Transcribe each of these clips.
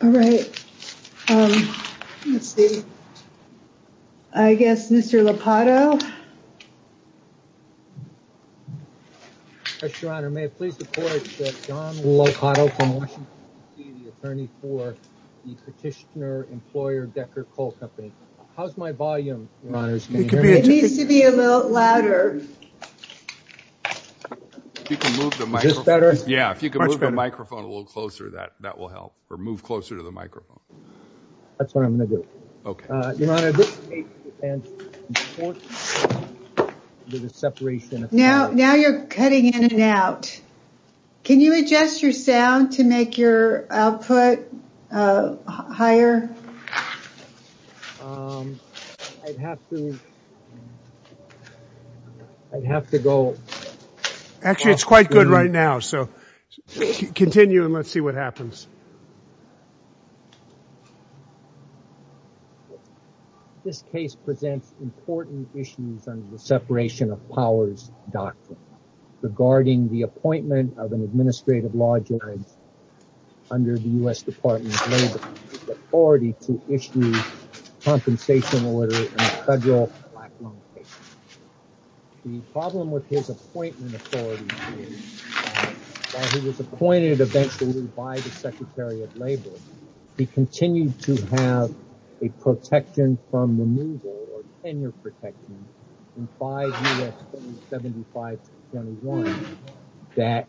All right. Let's see. I guess Mr. Lopato. Yes, Your Honor. May I please report that John Lopato from Washington DC, the attorney for the petitioner-employer Decker Coal Company. How's my volume, Your Honors? Can you hear me? It needs to be a little louder. Is this better? Yeah. If you could move the microphone a little closer, that will help or move closer to the microphone. That's what I'm going to do. Okay. Now you're cutting in and out. Can you adjust your sound to make your output higher? Actually, it's quite good right now. So continue and let's see what happens. This case presents important issues under the separation of powers doctrine regarding the appointment of an administrative law judge under the U.S. Department of Labor, with authority to issue compensation order in federal black loan cases. The problem with his appointment authority is that while he was appointed eventually by the Secretary of Labor, he continued to have a protection from removal or tenure protection in 5 U.S. 7521 that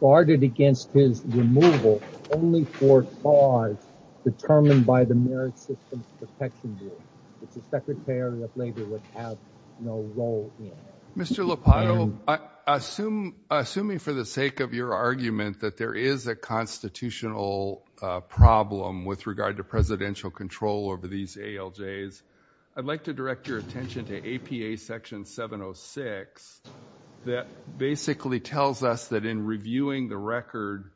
guarded against his removal only for cause determined by the Merit Systems Protection Bureau, which the Secretary of Labor would have no role in. Mr. Lopato, assuming for the sake of your argument that there is a constitutional problem with regard to presidential control over these ALJs, I'd like to direct your attention to APA section 706 that basically tells us that in reviewing the record,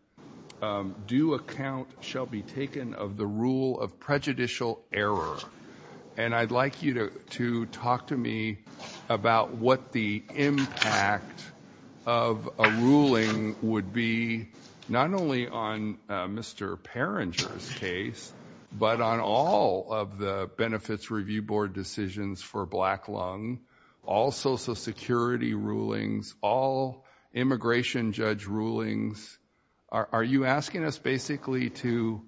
due account shall be taken of the rule of prejudicial error. And I'd like you to talk to me about what the impact of a ruling would be, not only on Mr. Peringer's case, but on all of the benefits review board decisions for black loan, all social security rulings, all immigration judge rulings. Are you asking us basically to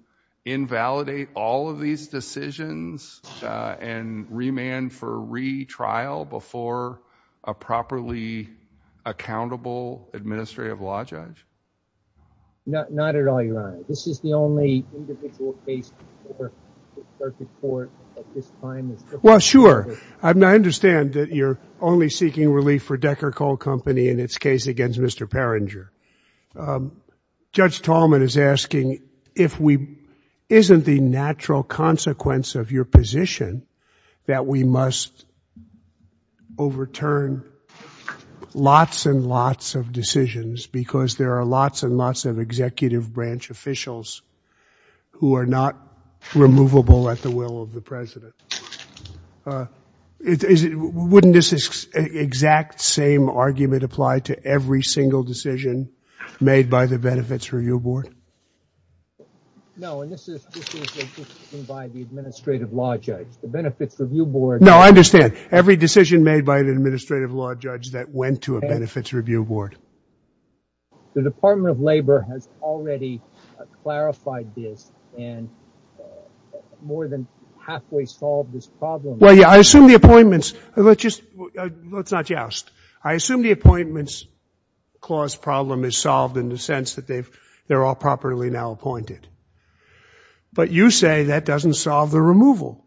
invalidate all of these decisions and remand for re-trial before a properly accountable administrative law judge? Not at all, Your Honor. This is the only individual case before the circuit court at this time. Well, sure. I understand that you're only seeking relief for Decker Coal Company in its case against Mr. Peringer. Judge Tallman is asking if we, isn't the natural consequence of your position that we must overturn lots and lots of decisions because there are lots and lots of executive branch officials who are not removable at the will of the president. Wouldn't this exact same argument apply to every single decision made by the benefits review board? No, and this is by the administrative law judge, the benefits review board. No, I understand. Every decision made by an administrative law judge that went to a benefits review board. The Department of Labor has already clarified this and more than halfway solved this problem. Well, yeah, I assume the appointments, let's just, let's not joust. I assume the appointments clause problem is solved in the sense that they're all properly now appointed. But you say that doesn't solve the removal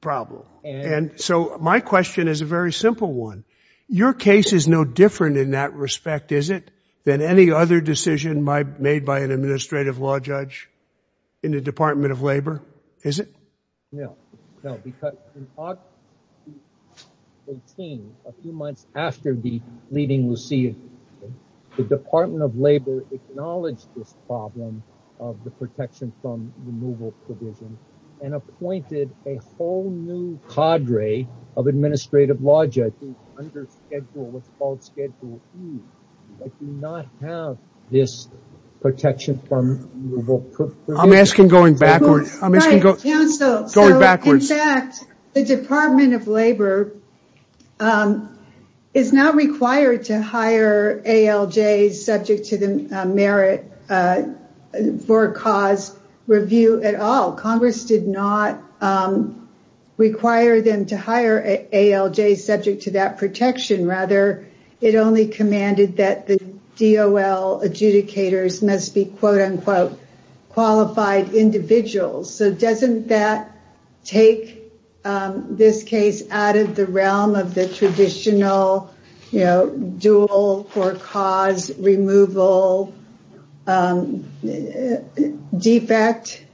problem. And so my question is a very simple one. Your case is no different in that respect, is it? Than any other decision made by an administrative law judge in the Department of Labor, is it? No, no, because in August 2018, a few months after the leading Lucille, the Department of Labor acknowledged this problem of the protection from removal provision and appointed a whole new cadre of administrative law judges under schedule, what's called schedule E, that do not have this protection from removal provision. I'm asking going backwards. I'm asking going backwards. In fact, the Department of Labor is not required to hire ALJs subject to the merit for cause review at all. Congress did not require them to hire ALJs subject to that protection. Rather, it only commanded that the DOL adjudicators must be quote, unquote, qualified individuals. So doesn't that take this case out of the realm of the traditional, you know, dual or cause removal defect?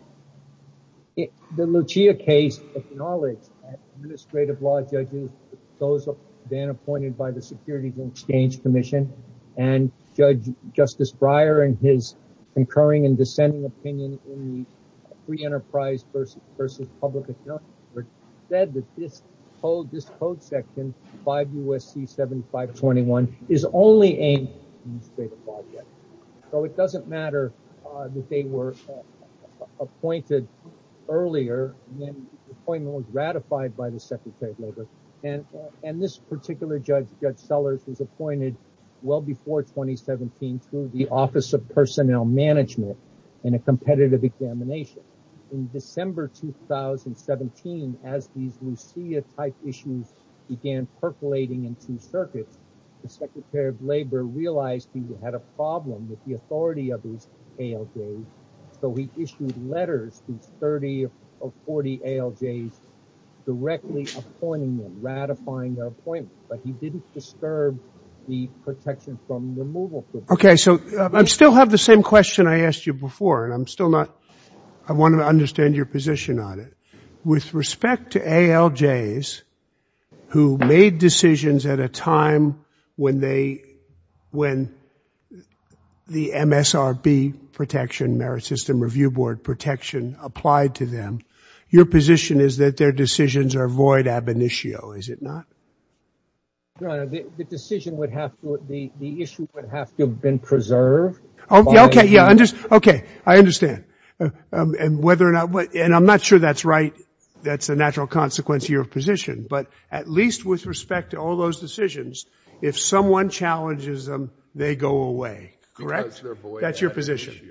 The Lucille case acknowledged administrative law judges, those then appointed by the Securities and Exchange Commission and Judge Justice Breyer and his concurring and dissenting opinion in the Free Enterprise versus Public Accounts Act said that this code section, 5 U.S.C. 7521, is only aimed at administrative law judges. So it doesn't matter that they were appointed earlier than the appointment was ratified by the Secretary of Labor. And this particular judge, Judge Sellers, was appointed well before 2017 to the Office of Competitive Examination. In December 2017, as these Lucille-type issues began percolating in two circuits, the Secretary of Labor realized he had a problem with the authority of his ALJs. So he issued letters to 30 or 40 ALJs directly appointing them, ratifying their appointment. But he didn't disturb the protection from removal. Okay, so I still have the same question I asked you before, and I'm still not, I want to understand your position on it. With respect to ALJs who made decisions at a time when they, when the MSRB protection, Merit System Review Board protection applied to them, your position is that their decisions are void ab initio, is it not? Your Honor, the decision would have to, the issue would have to have been preserved. Okay, yeah, I understand. And whether or not, and I'm not sure that's right, that's a natural consequence of your position. But at least with respect to all those decisions, if someone challenges them, they go away. Correct? That's your position.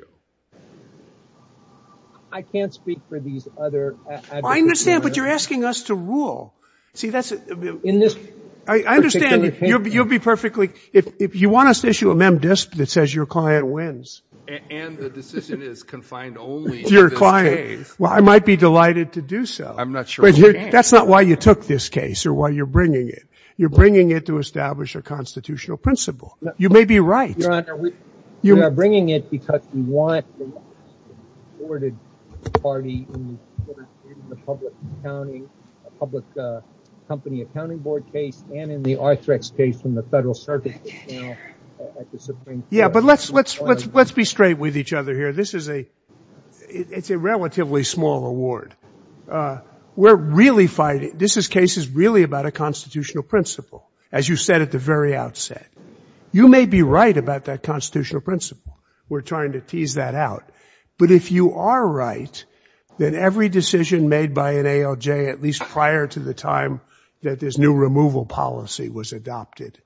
I can't speak for these other advocates. I understand, but you're asking us to rule. See, that's... I understand, you'll be perfectly, if you want us to issue a mem disp that says your client wins. And the decision is confined only to this case. To your client. Well, I might be delighted to do so. I'm not sure we can. That's not why you took this case or why you're bringing it. You're bringing it to establish a constitutional principle. You may be right. Your Honor, we are bringing it because we want the supported party in the public accounting, public company accounting board case, and in the Arthrex case from the federal circuit. Yeah, but let's be straight with each other here. This is a, it's a relatively small award. We're really fighting, this case is really about a constitutional principle, as you said at the very outset. You may be right about that constitutional principle. We're trying to tease that out. But if you are right, then every decision made by an ALJ, at least prior to the time that this new removal policy was adopted,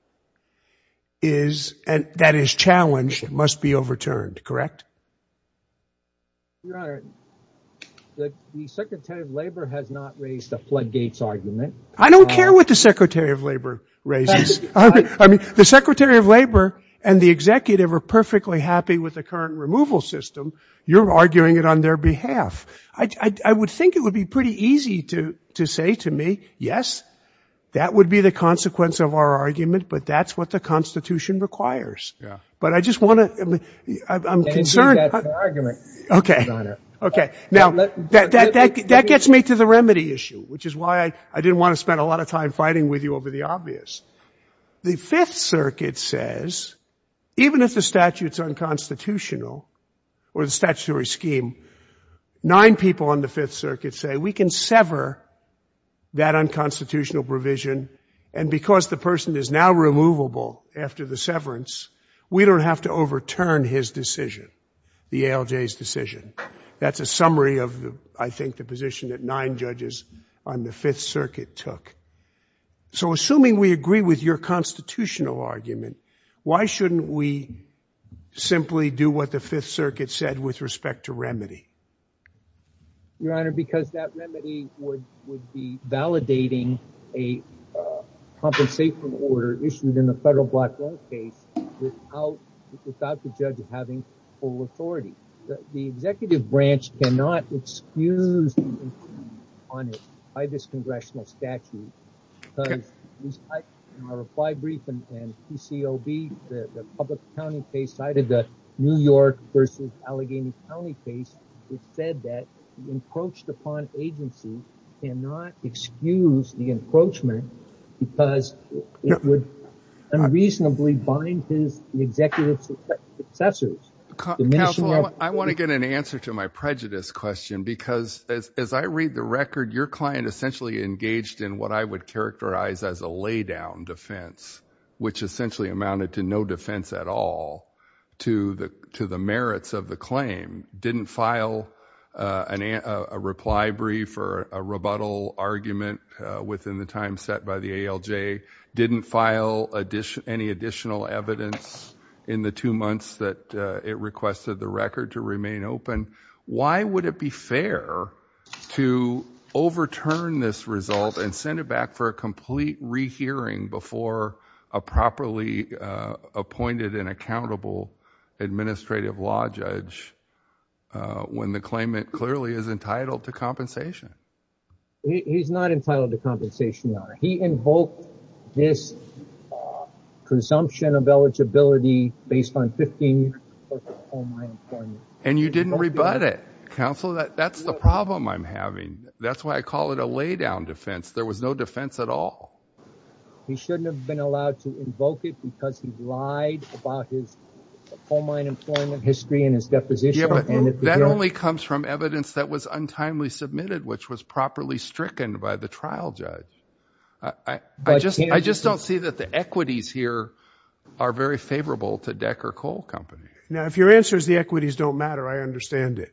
is, and that is challenged, must be overturned. Correct? Your Honor, the Secretary of Labor has not raised a floodgates argument. I don't care what the Secretary of Labor raises. I mean, the Secretary of Labor and the executive are perfectly happy with the current removal system. You're arguing it on their behalf. I would think it would be pretty easy to say to me, yes, that would be the consequence of our argument, but that's what the constitution requires. But I just want to, I'm concerned. Okay. Okay. Now that gets me to the remedy issue, which is why I didn't want to spend a lot of time with you over the obvious. The Fifth Circuit says, even if the statute's unconstitutional or the statutory scheme, nine people on the Fifth Circuit say we can sever that unconstitutional provision. And because the person is now removable after the severance, we don't have to overturn his decision, the ALJ's decision. That's a summary of, I think, the position that nine judges on the Fifth Circuit took. So assuming we agree with your constitutional argument, why shouldn't we simply do what the Fifth Circuit said with respect to remedy? Your Honor, because that remedy would be validating a compensation order issued in the federal black law case without the judge having full authority. The executive branch cannot excuse on it by this congressional statute. In our reply brief and PCOB, the public county case, I did the New York versus Allegheny County case. It said that the encroached upon agency cannot excuse the encroachment because it would unreasonably bind his executive successors. Counsel, I want to get an answer to my prejudice question because as I read the record, your client essentially engaged in what I would characterize as a lay down defense, which essentially amounted to no defense at all to the merits of the claim. Didn't file a reply brief or a rebuttal argument within the time set by the ALJ. Didn't file any additional evidence in the two months that it requested the record to remain open. Why would it be fair to overturn this result and send it back for a complete rehearing before a properly appointed and accountable administrative law judge when the claimant clearly is entitled to compensation? He's not entitled to compensation. He invoked this presumption of eligibility based on 15 and you didn't rebut it. Counsel, that's the problem I'm having. That's why I call it a lay down defense. There was no defense at all. He shouldn't have been allowed to invoke it because he lied about his coal mine employment history and his deposition. That only comes from evidence that was untimely submitted, which was properly stricken by the trial judge. I just don't see that the equities here are very favorable to Decker Coal Company. Now, if your answer is the equities don't matter, I understand it.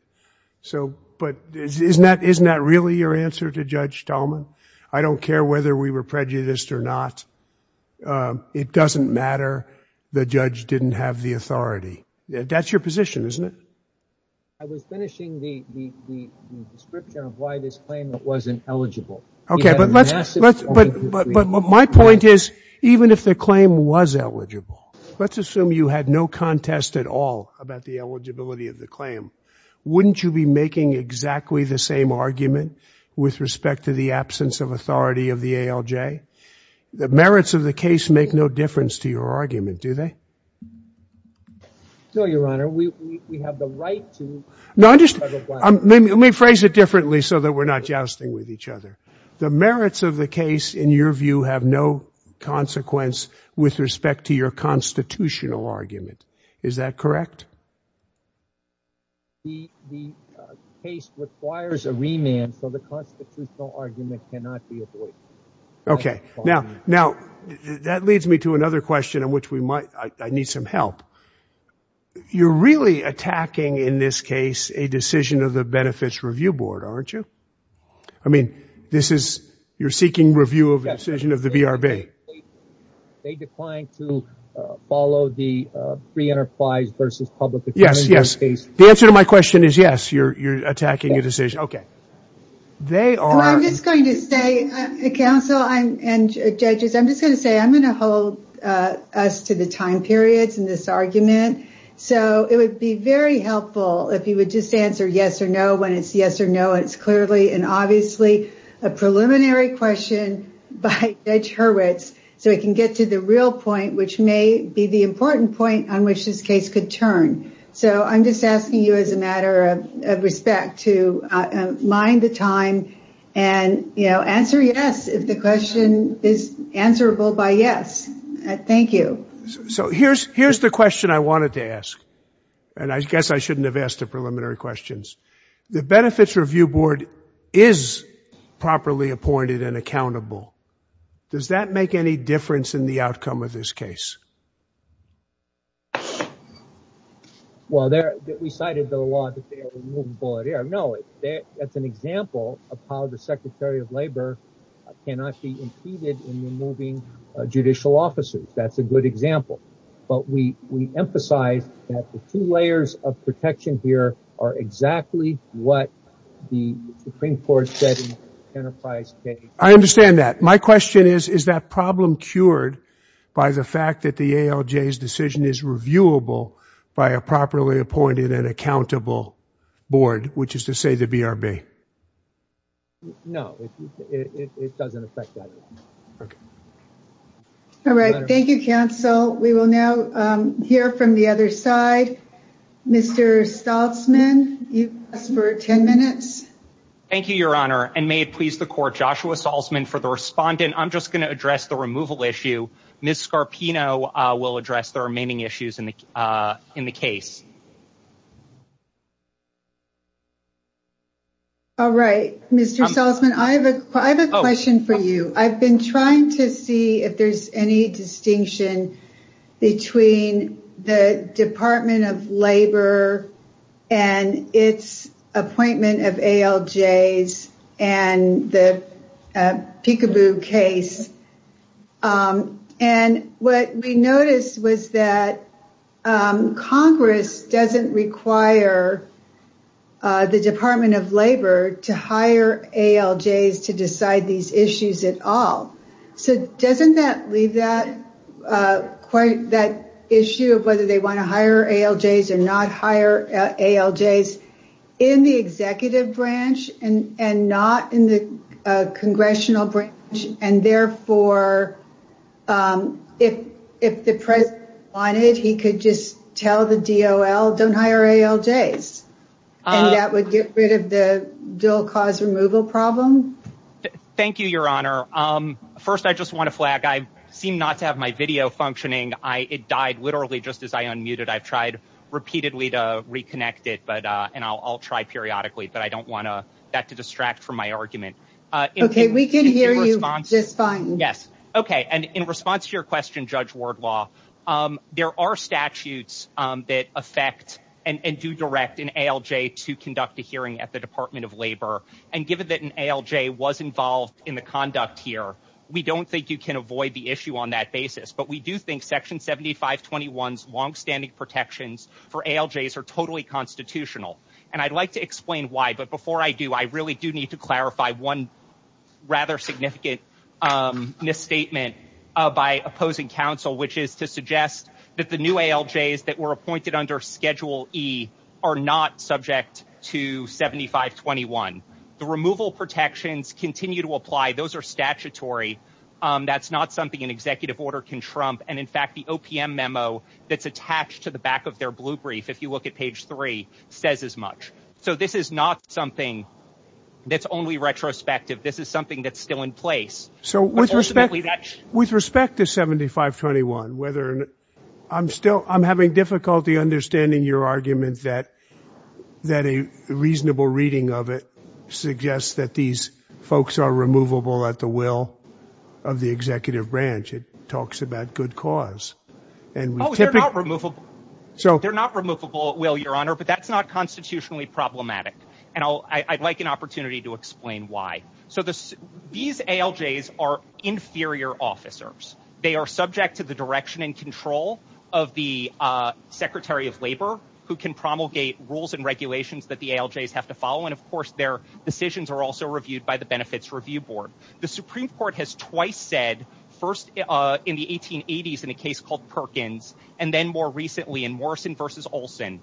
But isn't that really your answer to Judge Talman? I don't care whether we were prejudiced or not. It doesn't matter. The judge didn't have the authority. That's your position, isn't it? I was finishing the description of why this claimant wasn't eligible. Okay. But my point is, even if the claim was eligible, let's assume you had no contest at all about the eligibility of the claim. Wouldn't you be making exactly the same argument with respect to the absence of authority of the ALJ? The merits of the case make no difference to your argument, do they? No, Your Honor, we have the right to- Let me phrase it differently so that we're not jousting with each other. The merits of the case, in your view, have no consequence with respect to your constitutional argument. Is that correct? The case requires a remand, so the constitutional argument cannot be avoided. Okay. Now, that leads me to another question I need some help. You're really attacking, in this case, a decision of the Benefits Review Board, aren't you? I mean, you're seeking review of the decision of the BRB. They declined to follow the free enterprise versus public- Yes, yes. The answer to my question is yes, you're attacking a decision. Okay. They are- I'm just going to say, counsel and judges, I'm just going to say I'm going to hold us to the time periods in this argument. It would be very helpful if you would just answer yes or no when it's yes or no. It's clearly and obviously a preliminary question by Judge Hurwitz so he can get to the real point, which may be the important point on which this case could turn. I'm just asking you as a matter of respect to mind the time and answer yes if the question is answerable by yes. Thank you. Here's the question I wanted to ask, and I guess I shouldn't have asked the preliminary questions. The Benefits Review Board is properly appointed and accountable. Does that make any difference in the outcome of this case? Well, we cited the law that they are removing bullet air. No, that's an example of how the Secretary of Labor cannot be impeded in removing judicial officers. That's a good example, but we emphasize that the two layers of protection here are exactly what the Supreme Court said in the enterprise case. I understand that. My question is, is that problem cured by the fact that the ALJ's decision is reviewable by a properly appointed and accountable board, which is to say the BRB? No, it doesn't affect that. All right. Thank you, counsel. We will now hear from the other side. Mr. Staltzman, you've asked for 10 minutes. Thank you, Your Honor, and may it please the Court, Joshua Ms. Scarpino will address the remaining issues in the case. All right. Mr. Staltzman, I have a question for you. I've been trying to see if there's any distinction between the Department of Labor and its appointment of ALJs and the Peekaboo case. And what we noticed was that Congress doesn't require the Department of Labor to hire ALJs to decide these issues at all. So doesn't that leave that issue of whether they want to hire ALJs or not hire ALJs in the executive branch and not in the congressional branch? And therefore, if the president wanted, he could just tell the DOL, don't hire ALJs, and that would get rid of the dual cause removal problem? Thank you, Your Honor. First, I just want to flag, I seem not to have my video functioning. It died literally just as I unmuted. I've tried repeatedly to reconnect it, and I'll try periodically, but I don't want that to distract from my argument. Okay, we can hear you just fine. Yes. Okay. And in response to your question, Judge Wardlaw, there are statutes that affect and do direct an ALJ to conduct a hearing at the Department of Labor. And given that an ALJ was involved in the conduct here, we don't think you can avoid the issue on that basis. But we do think Section 7521's longstanding protections for ALJs are totally constitutional. And I'd like to explain why, but before I do, I really do need to clarify one rather significant misstatement by opposing counsel, which is to suggest that the new ALJs that were appointed under Schedule E are not subject to 7521. The removal protections continue to apply. Those are statutory. That's not something an executive order can trump. And in fact, the OPM memo that's attached to the back of their blue brief, if you look at page three, says as much. So this is not something that's only retrospective. This is something that's still in place. So with respect to 7521, I'm having difficulty understanding your argument that a reasonable reading of it suggests that these folks are removable at the will of the executive branch. It talks about good cause. Oh, they're not removable at will, Your Honor, but that's not constitutionally problematic. And I'd like an opportunity to explain why. So these ALJs are inferior officers. They are subject to the direction and control of the Secretary of Labor, who can promulgate rules and regulations that the ALJs have to follow. And of course, their decisions are also reviewed by the Benefits Review Board. The Supreme Court has twice said, first in the 1880s in a case called Perkins, and then more recently in Morrison v. Olson,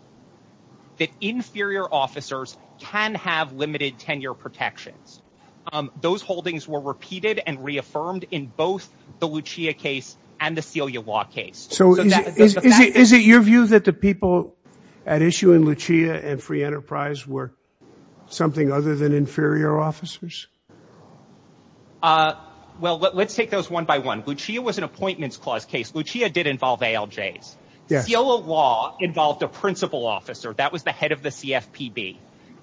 that inferior officers can have limited tenure protections. Those holdings were repeated and reaffirmed in both the Lucia case and the and Free Enterprise case. Lucia and Free Enterprise were something other than inferior officers? Well, let's take those one by one. Lucia was an Appointments Clause case. Lucia did involve ALJs. CILA law involved a principal officer. That was the head of the CFPB.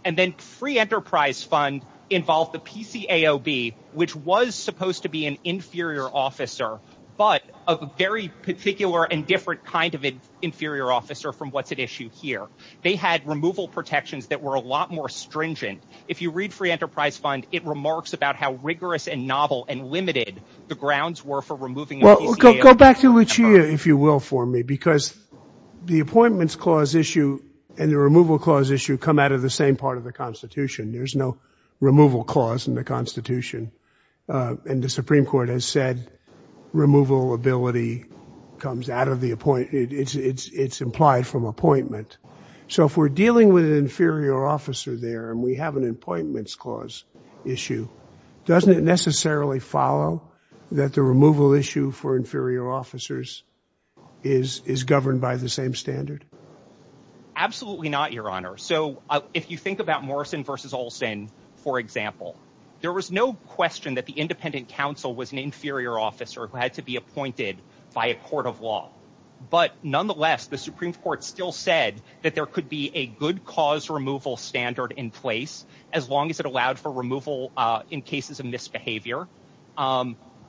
And then Free Enterprise fund involved the PCAOB, which was supposed to be an inferior officer, but a very particular and different kind of an inferior officer from what's at issue here. They had removal protections that were a lot more stringent. If you read Free Enterprise Fund, it remarks about how rigorous and novel and limited the grounds were for removing the PCAOB. Well, go back to Lucia, if you will, for me, because the Appointments Clause issue and the Removal Clause issue come out of the same part of the Constitution. There's no Removal Clause in the Constitution. And the Supreme Court has said removal ability comes out of the appointment. It's implied from appointment. So if we're dealing with an inferior officer there and we have an Appointments Clause issue, doesn't it necessarily follow that the removal issue for inferior officers is governed by the same standard? Absolutely not, Your Honor. So if you think about Morrison versus Olson, for example, there was no question that the independent counsel was an inferior officer who had to be appointed by a court of law. But nonetheless, the Supreme Court still said that there could be a good cause removal standard in place as long as it allowed for removal in cases of misbehavior,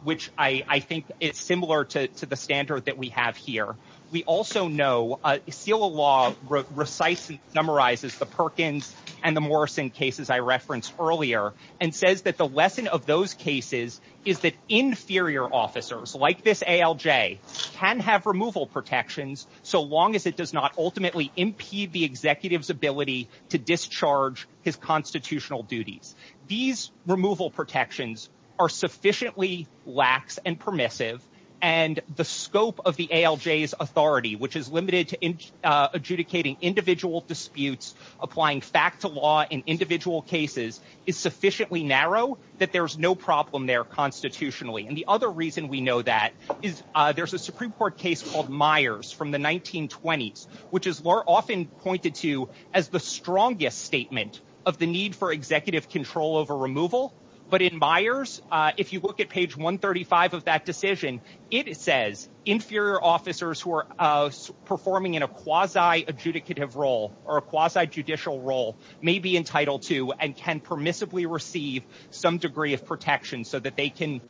which I think is similar to the standard that we have here. We also know seal of law recites and summarizes the Perkins and the Morrison cases I referenced earlier and says that the lesson of those cases is that inferior officers like this ALJ can have removal protections so long as it does not ultimately impede the executive's ability to discharge his constitutional duties. These removal protections are sufficiently lax and permissive and the scope of the ALJ's authority, which is limited to adjudicating individual disputes, applying fact to law in individual cases, is sufficiently narrow that there's no problem there constitutionally. And the other reason we know that is there's a Supreme Court case called Myers from the 1920s, which is often pointed to as the strongest statement of the need for it. It says inferior officers who are performing in a quasi adjudicative role or a quasi judicial role may be entitled to and can permissibly receive some degree of protection so that they can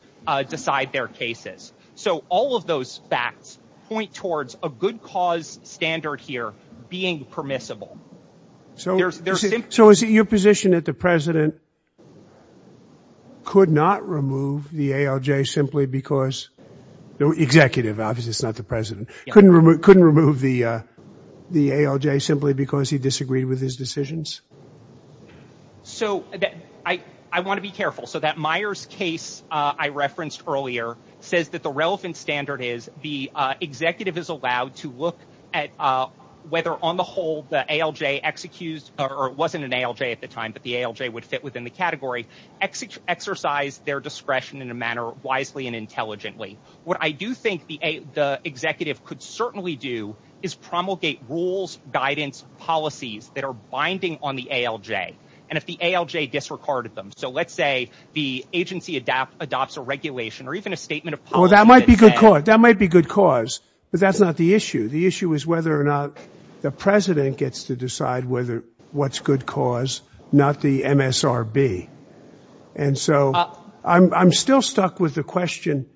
decide their cases. So all of those facts point towards a good cause standard here being permissible. So is it your position that the president could not remove the ALJ simply because the executive, obviously it's not the president, couldn't remove the ALJ simply because he disagreed with his decisions? So I want to be careful. So that Myers case I referenced earlier says that the relevant standard is the executive is allowed to look at whether on the whole the ALJ executes or wasn't an ALJ at the time, but the ALJ would fit within the category, exercise their discretion in a manner wisely and intelligently. What I do think the executive could certainly do is promulgate rules, guidance, policies that are binding on the ALJ. And if the ALJ disregarded them, so let's say the agency adopts a regulation or even a statement of policy. That might be good cause, but that's not the issue. The issue is whether or not the president gets to decide what's good cause, not the MSRB. And so I'm still stuck with the question.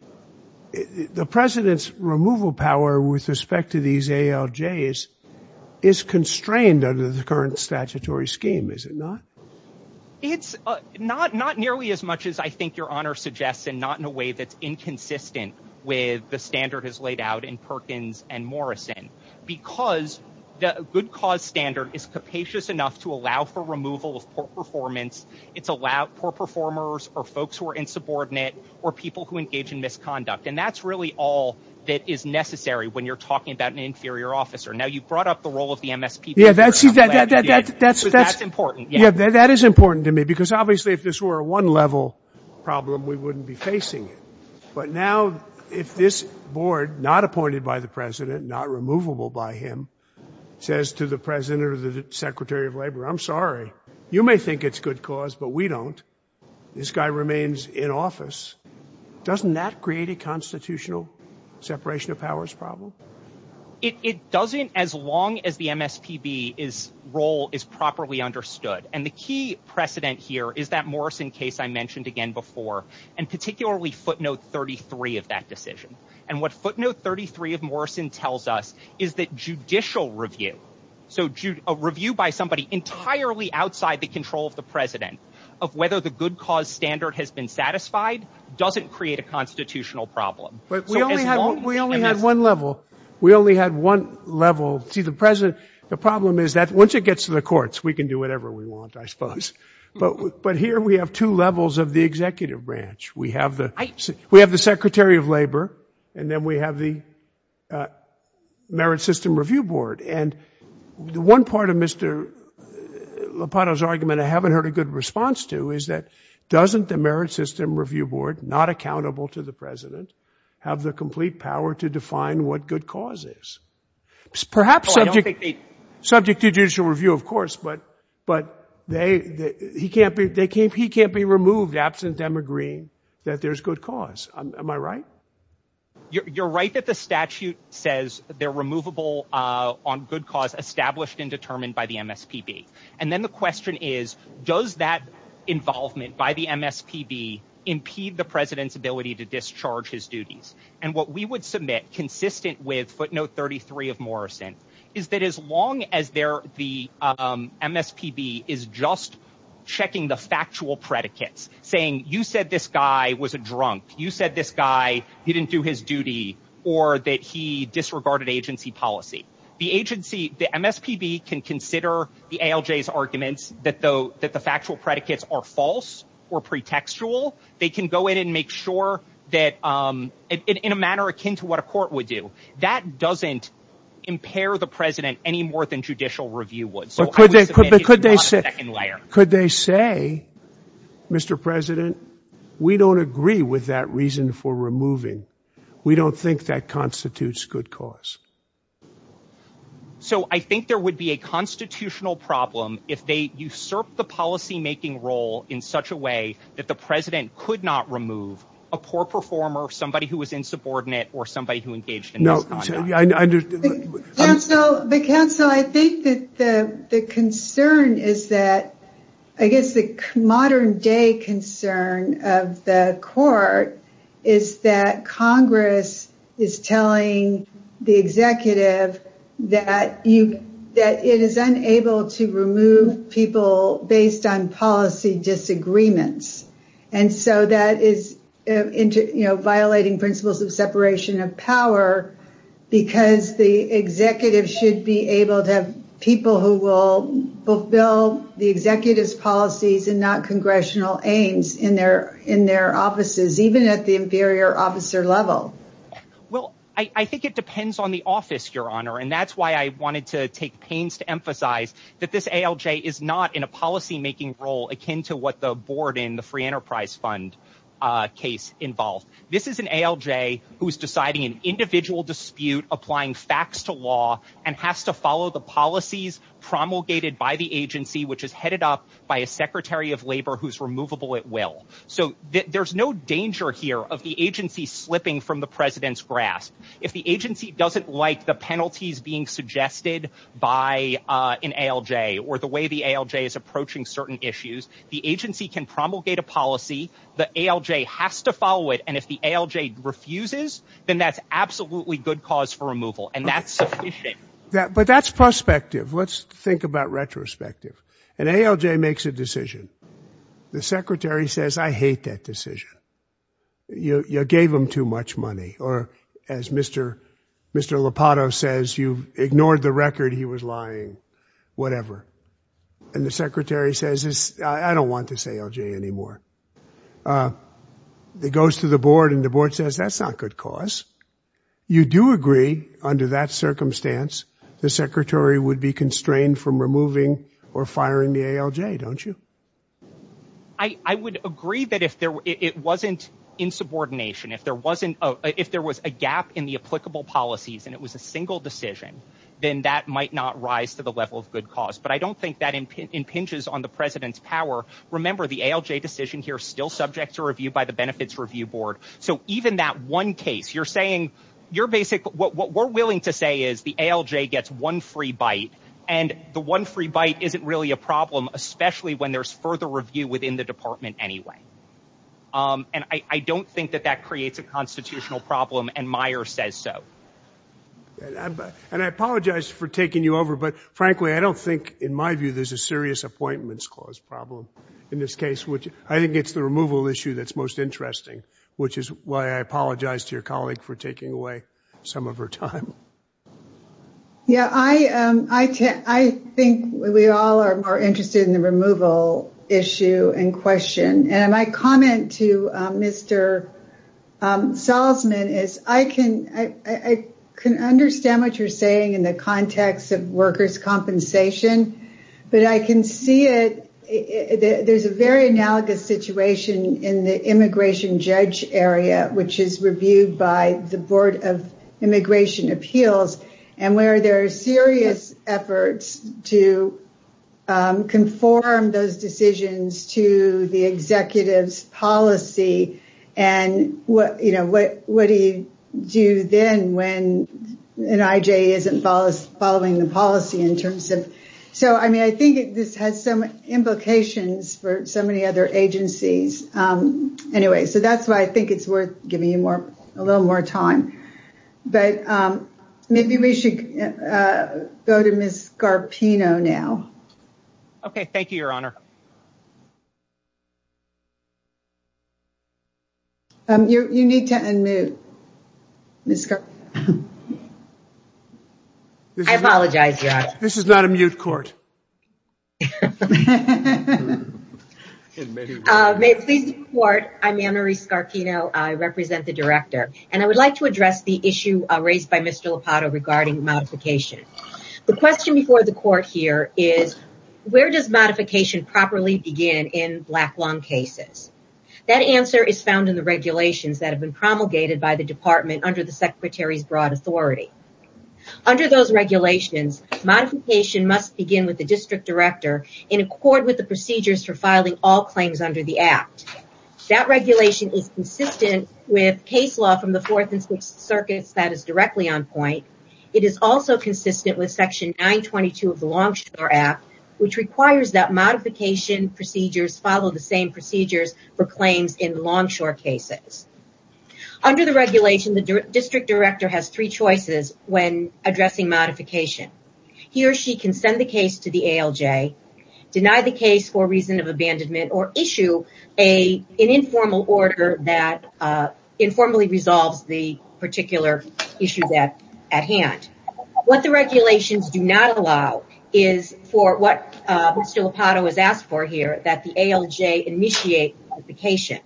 The president's removal power with respect to these ALJs is constrained under the current statutory scheme, is it not? It's not nearly as much as I think your honor suggests and not in a way that's inconsistent with the standard has laid out in Perkins and the good cause standard is capacious enough to allow for removal of poor performance. It's allowed poor performers or folks who are insubordinate or people who engage in misconduct. And that's really all that is necessary when you're talking about an inferior officer. Now, you brought up the role of the MSP. Yeah, that's that's important. Yeah, that is important to me because obviously if this were a one level problem, we wouldn't be facing it. But now if this board, not appointed by the president, not removable by him, says to the president or the secretary of labor, I'm sorry, you may think it's good cause, but we don't. This guy remains in office. Doesn't that create a constitutional separation of powers problem? It doesn't as long as the MSPB is role is properly understood. And the key precedent here is that Morrison case I mentioned again before and particularly footnote 33 of that decision. And what footnote 33 of Morrison tells us is that judicial review. So a review by somebody entirely outside the control of the president of whether the good cause standard has been satisfied doesn't create a constitutional problem. But we only had one level. We only had one level to the president. The problem is that once it gets to the courts, we can do whatever we want, I suppose. But but here we have two branch. We have the we have the secretary of labor and then we have the merit system review board. And the one part of Mr. Lopato's argument I haven't heard a good response to is that doesn't the merit system review board, not accountable to the president, have the complete power to define what good cause is perhaps subject to judicial review, of course. But they he can't be they can't he can't be removed absent them agreeing that there's good cause. Am I right? You're right that the statute says they're removable on good cause established and determined by the MSPB. And then the question is, does that involvement by the MSPB impede the president's ability to discharge his duties? And what we would submit consistent with footnote 33 of Morrison is that as long as they're the MSPB is just checking the factual predicates saying you said this guy was a drunk, you said this guy didn't do his duty or that he disregarded agency policy, the agency, the MSPB can consider the ALJ's arguments that though that the factual predicates are false or pretextual, they can go in and make sure that in a manner akin to what court would do. That doesn't impair the president any more than judicial review would. But could they say could they say, Mr. President, we don't agree with that reason for removing. We don't think that constitutes good cause. So I think there would be a constitutional problem if they usurp the policymaking role in such a way that the president could not remove a poor performer, somebody who was insubordinate or somebody who engaged in. No, I understand. The counsel, I think that the concern is that I guess the modern day concern of the court is that Congress is telling the executive that you that it is unable to remove people based on disagreements. And so that is violating principles of separation of power because the executive should be able to have people who will fulfill the executive's policies and not congressional aims in their in their offices, even at the inferior officer level. Well, I think it depends on the office, Your Honor. And that's why I wanted to take pains to to what the board in the Free Enterprise Fund case involved. This is an ALJ who is deciding an individual dispute, applying facts to law and has to follow the policies promulgated by the agency, which is headed up by a secretary of labor who's removable at will. So there's no danger here of the agency slipping from the president's grasp. If the agency doesn't like the penalties being suggested by an ALJ or the way the ALJ is approaching certain issues, the agency can promulgate a policy. The ALJ has to follow it. And if the ALJ refuses, then that's absolutely good cause for removal. And that's sufficient. But that's prospective. Let's think about retrospective. An ALJ makes a decision. The secretary says, I hate that decision. You gave him too much money. Or as Mr. Lopato says, you ignored the record. He was lying, whatever. And the secretary says, I don't want this ALJ anymore. It goes to the board and the board says, that's not good cause. You do agree under that circumstance, the secretary would be constrained from removing or firing the ALJ, don't you? I would agree that if it wasn't in subordination, if there was a gap in the applicable policies and it was a single decision, then that might not rise to the level of good cause. But I don't think that impinges on the president's power. Remember, the ALJ decision here is still subject to review by the Benefits Review Board. So even that one case, you're saying you're basic. What we're willing to say is the ALJ gets one free bite and the one free bite isn't really a problem, especially when there's further review within the department anyway. And I don't think that that creates a constitutional problem and Meyer says so. And I apologize for taking you over. But frankly, I don't think in my view, there's a serious appointments clause problem in this case, which I think it's the removal issue that's most interesting, which is why I apologize to your colleague for taking away some of her time. Yeah, I think we all are more interested in the removal issue and question. And my comment to Mr. Salzman is I can understand what you're saying in the context of workers' compensation, but I can see it. There's a very analogous situation in the immigration judge area, which is reviewed by the Board of Immigration Appeals, and where there are serious efforts to conform those decisions to the executive's policy. And what do you do then when an IJ isn't following the policy in terms of... So, I mean, I think this has some implications for so many other agencies. Anyway, so that's why I think it's worth giving you a little more time. But maybe we should go to Ms. Garpino now. Okay. Thank you, Your Honor. You need to unmute, Ms. Garpino. I apologize, Your Honor. This is not a mute court. May it please the Court, I'm Ann Marie Garpino. I represent the Director, and I would like to address the issue raised by Mr. Lopato regarding modification. The question before the Court here is, where does modification properly begin in black lung cases? That answer is found in the regulations that have been promulgated by the Department under the Secretary's broad authority. Under those regulations, modification must begin with the District Director in accord with the procedures for filing all claims under the Act. That regulation is consistent with case law from the Fourth and Sixth Circuits that is directly on point. It is also consistent with Section 922 of the Longshore Act, which requires that modification procedures follow the same procedures for claims in longshore cases. Under the regulation, the District Director has three choices when addressing modification. He or she can send the case to the ALJ, deny the case for reason of abandonment, or issue an informal order that informally resolves the particular issue at hand. What the regulations do not allow is for what Mr. Lopato has asked for here that the ALJ initiate modification.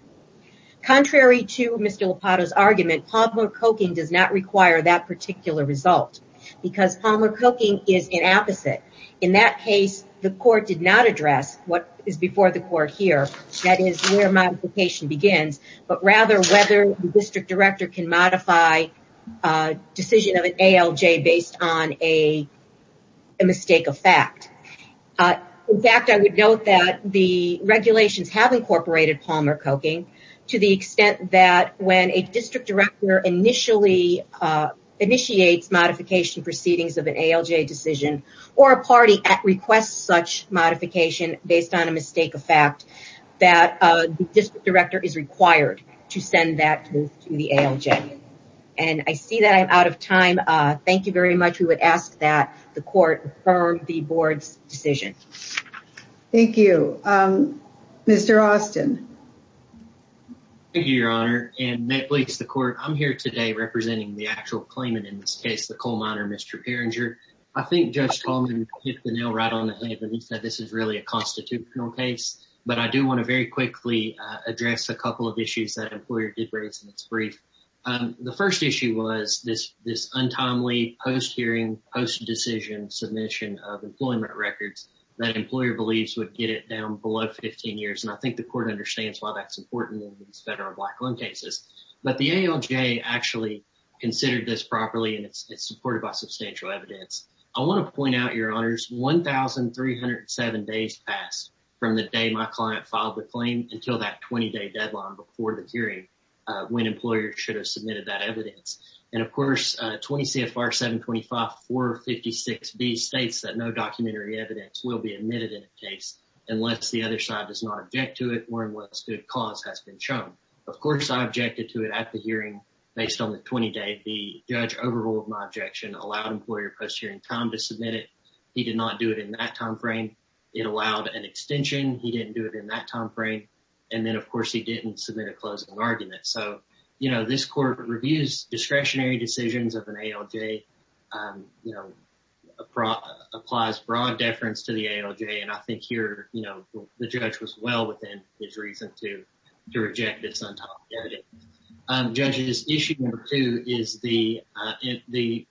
Contrary to Mr. Lopato's argument, Palmer Coking does not require that particular result because Palmer Coking is an opposite. In that case, the Court did not address what is before the Court here, that is where modification begins, but rather whether the District Director can modify a decision of an ALJ based on a mistake of fact. In fact, I would note that the regulations have incorporated Palmer Coking to the extent that when a District Director initially initiates modification proceedings of an ALJ decision, or a party requests such modification based on a mistake of fact, that the District Director is required to send that to the ALJ. I see that I am out of time. Thank you very much. We would ask that the Court affirm the Board's decision. Thank you. Mr. Austin. Thank you, Your Honor, and may it please the Court, I am here today representing the actual claimant in this case, the coal miner, Mr. Perringer. I think Judge Coleman hit the nail right on the head when he said this is really a constitutional case, but I do want to very quickly address a couple of issues that an employer did raise in its brief. The first issue was this untimely post-hearing, post-decision submission of employment records that an employer believes would get it down below 15 years, and I think the Court understands why that's important in these federal black loan cases. But the ALJ actually considered this properly, and it's supported by substantial evidence. I want to point out, Your Honors, 1,307 days passed from the day my client filed the claim until that 20-day deadline before the hearing when employers should have submitted that evidence. And, of course, 20 CFR 725-456B states that no documentary evidence will be admitted in a case unless the other side does not object to it or unless good cause has been shown. Of course, I objected to it at the hearing based on the 20-day. The judge overruled my objection, allowed employer post-hearing time to submit it. He did not do it in that time frame. It allowed an extension. He didn't do it in that time frame, and then, of course, he didn't submit a closing argument. So, you know, this Court reviews discretionary decisions of an ALJ, you know, applies broad deference to the ALJ, and I think here, you know, the judge was well within his reason to reject this untopped evidence. Judge's issue number two is the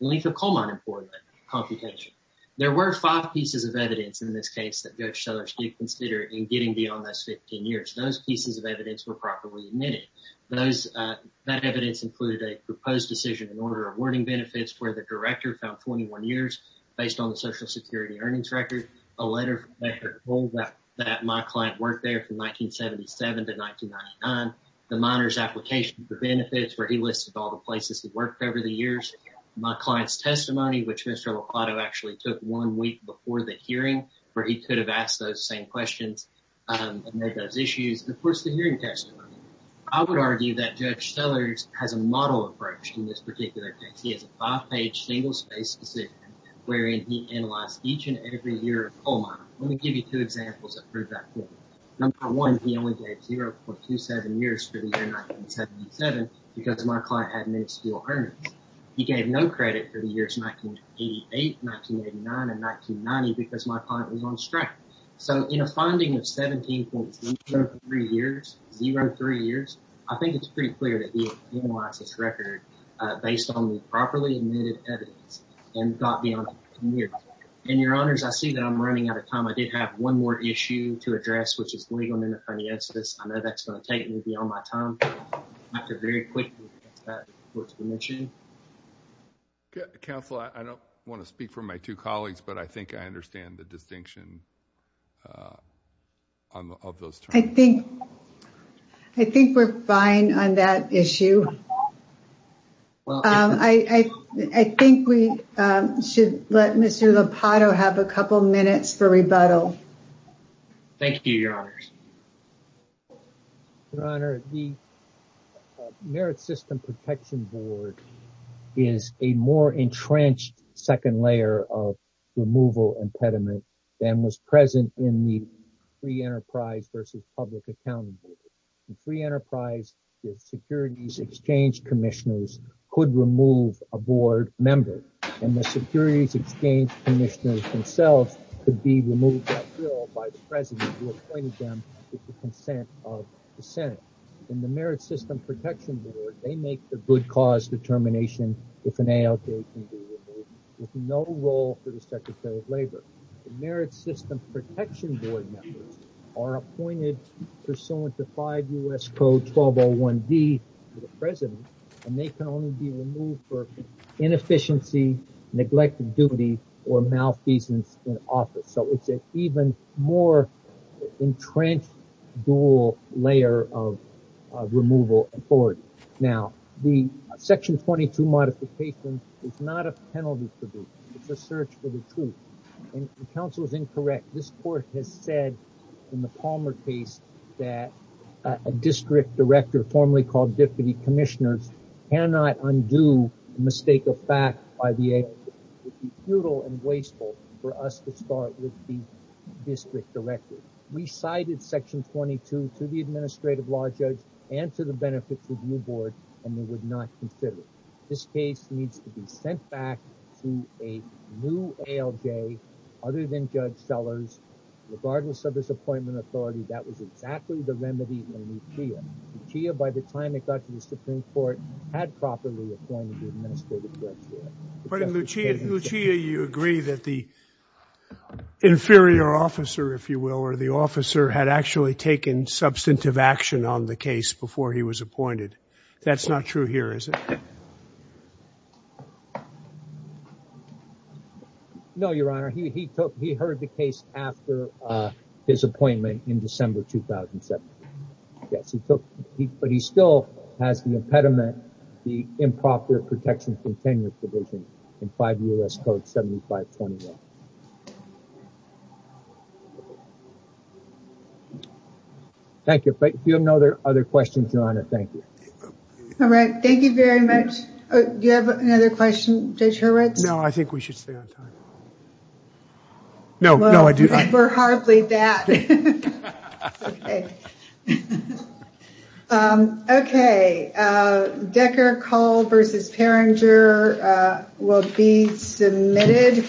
length of coal mine employment computation. There were five pieces of evidence in this case that Judge Sellers did consider in getting beyond those 15 years. Those pieces of evidence were properly admitted. Those, that evidence included a proposed decision in order of awarding benefits where the director found 21 years based on the Social Security earnings record, a letter that my client worked there from 1977 to 1999, the miner's application for benefits where he listed all the places he worked over the years, my client's testimony, which Mr. Locato actually took one week before the hearing where he could have asked those same questions and made those I would argue that Judge Sellers has a model approach in this particular case. He has a five-page single-spaced decision wherein he analyzed each and every year of coal mine. Let me give you two examples that prove that point. Number one, he only gave 0.27 years for the year 1977 because my client had no steel earnings. He gave no credit for the years 1988, 1989, and 1990 because my client was on strike. So, in a finding of 17.03 years, I think it's pretty clear that he had analyzed this record based on the properly admitted evidence and got beyond 15 years. And your honors, I see that I'm running out of time. I did have one more issue to address, which is the legal and independent answer to this. I know that's going to take me beyond my time. I have to very quickly address that report to the commission. Counsel, I don't want to speak for my two colleagues, but I think I understand the distinction of those terms. I think we're fine on that issue. I think we should let Mr. Lupato have a couple minutes for rebuttal. Thank you, your honors. Your honor, the Merit System Protection Board is a more entrenched second layer of removal impediment than was present in the Free Enterprise versus Public Accountability. The Free Enterprise Securities Exchange Commissioners could remove a board member and the Securities Exchange Commissioners themselves could be removed by the president who appointed them with the consent of the Senate. In the Merit System Protection Board, they make the good cause determination if an ALJ can be removed with no role for the Secretary of Labor. The Merit System Protection Board members are appointed pursuant to five U.S. Code 1201D to the president, and they can only be removed for inefficiency, neglect of duty, or malfeasance in office. So it's an even more entrenched dual layer of removal authority. Now, the Section 22 modification is not a penalty to do. It's a search for the truth. And counsel is incorrect. This court has said in the Palmer case that a district director, formerly called Deputy Commissioners, cannot undo a mistake of fact by the ALJ. It would be futile and wasteful for us to start with the district director. We cited Section 22 to the Administrative Law Judge and to the Benefits Review Board, and they would not consider it. This case needs to be sent back to a new ALJ other than Judge Sellers. Regardless of his Supreme Court. But in Lucia, you agree that the inferior officer, if you will, or the officer had actually taken substantive action on the case before he was appointed. That's not true here, is it? No, Your Honor. He took, he heard the case after his appointment in December 2017. Yes, he took, but he still has the impediment, the improper protection from tenure provision in 5 U.S. Code 7521. Thank you. But if you have no other questions, Your Honor, thank you. All right. Thank you very much. Do you have another question, Judge Horowitz? No, I think we should stay on time. No, no, I do not. We're hardly that. Okay. Decker-Cull v. Peringer will be submitted.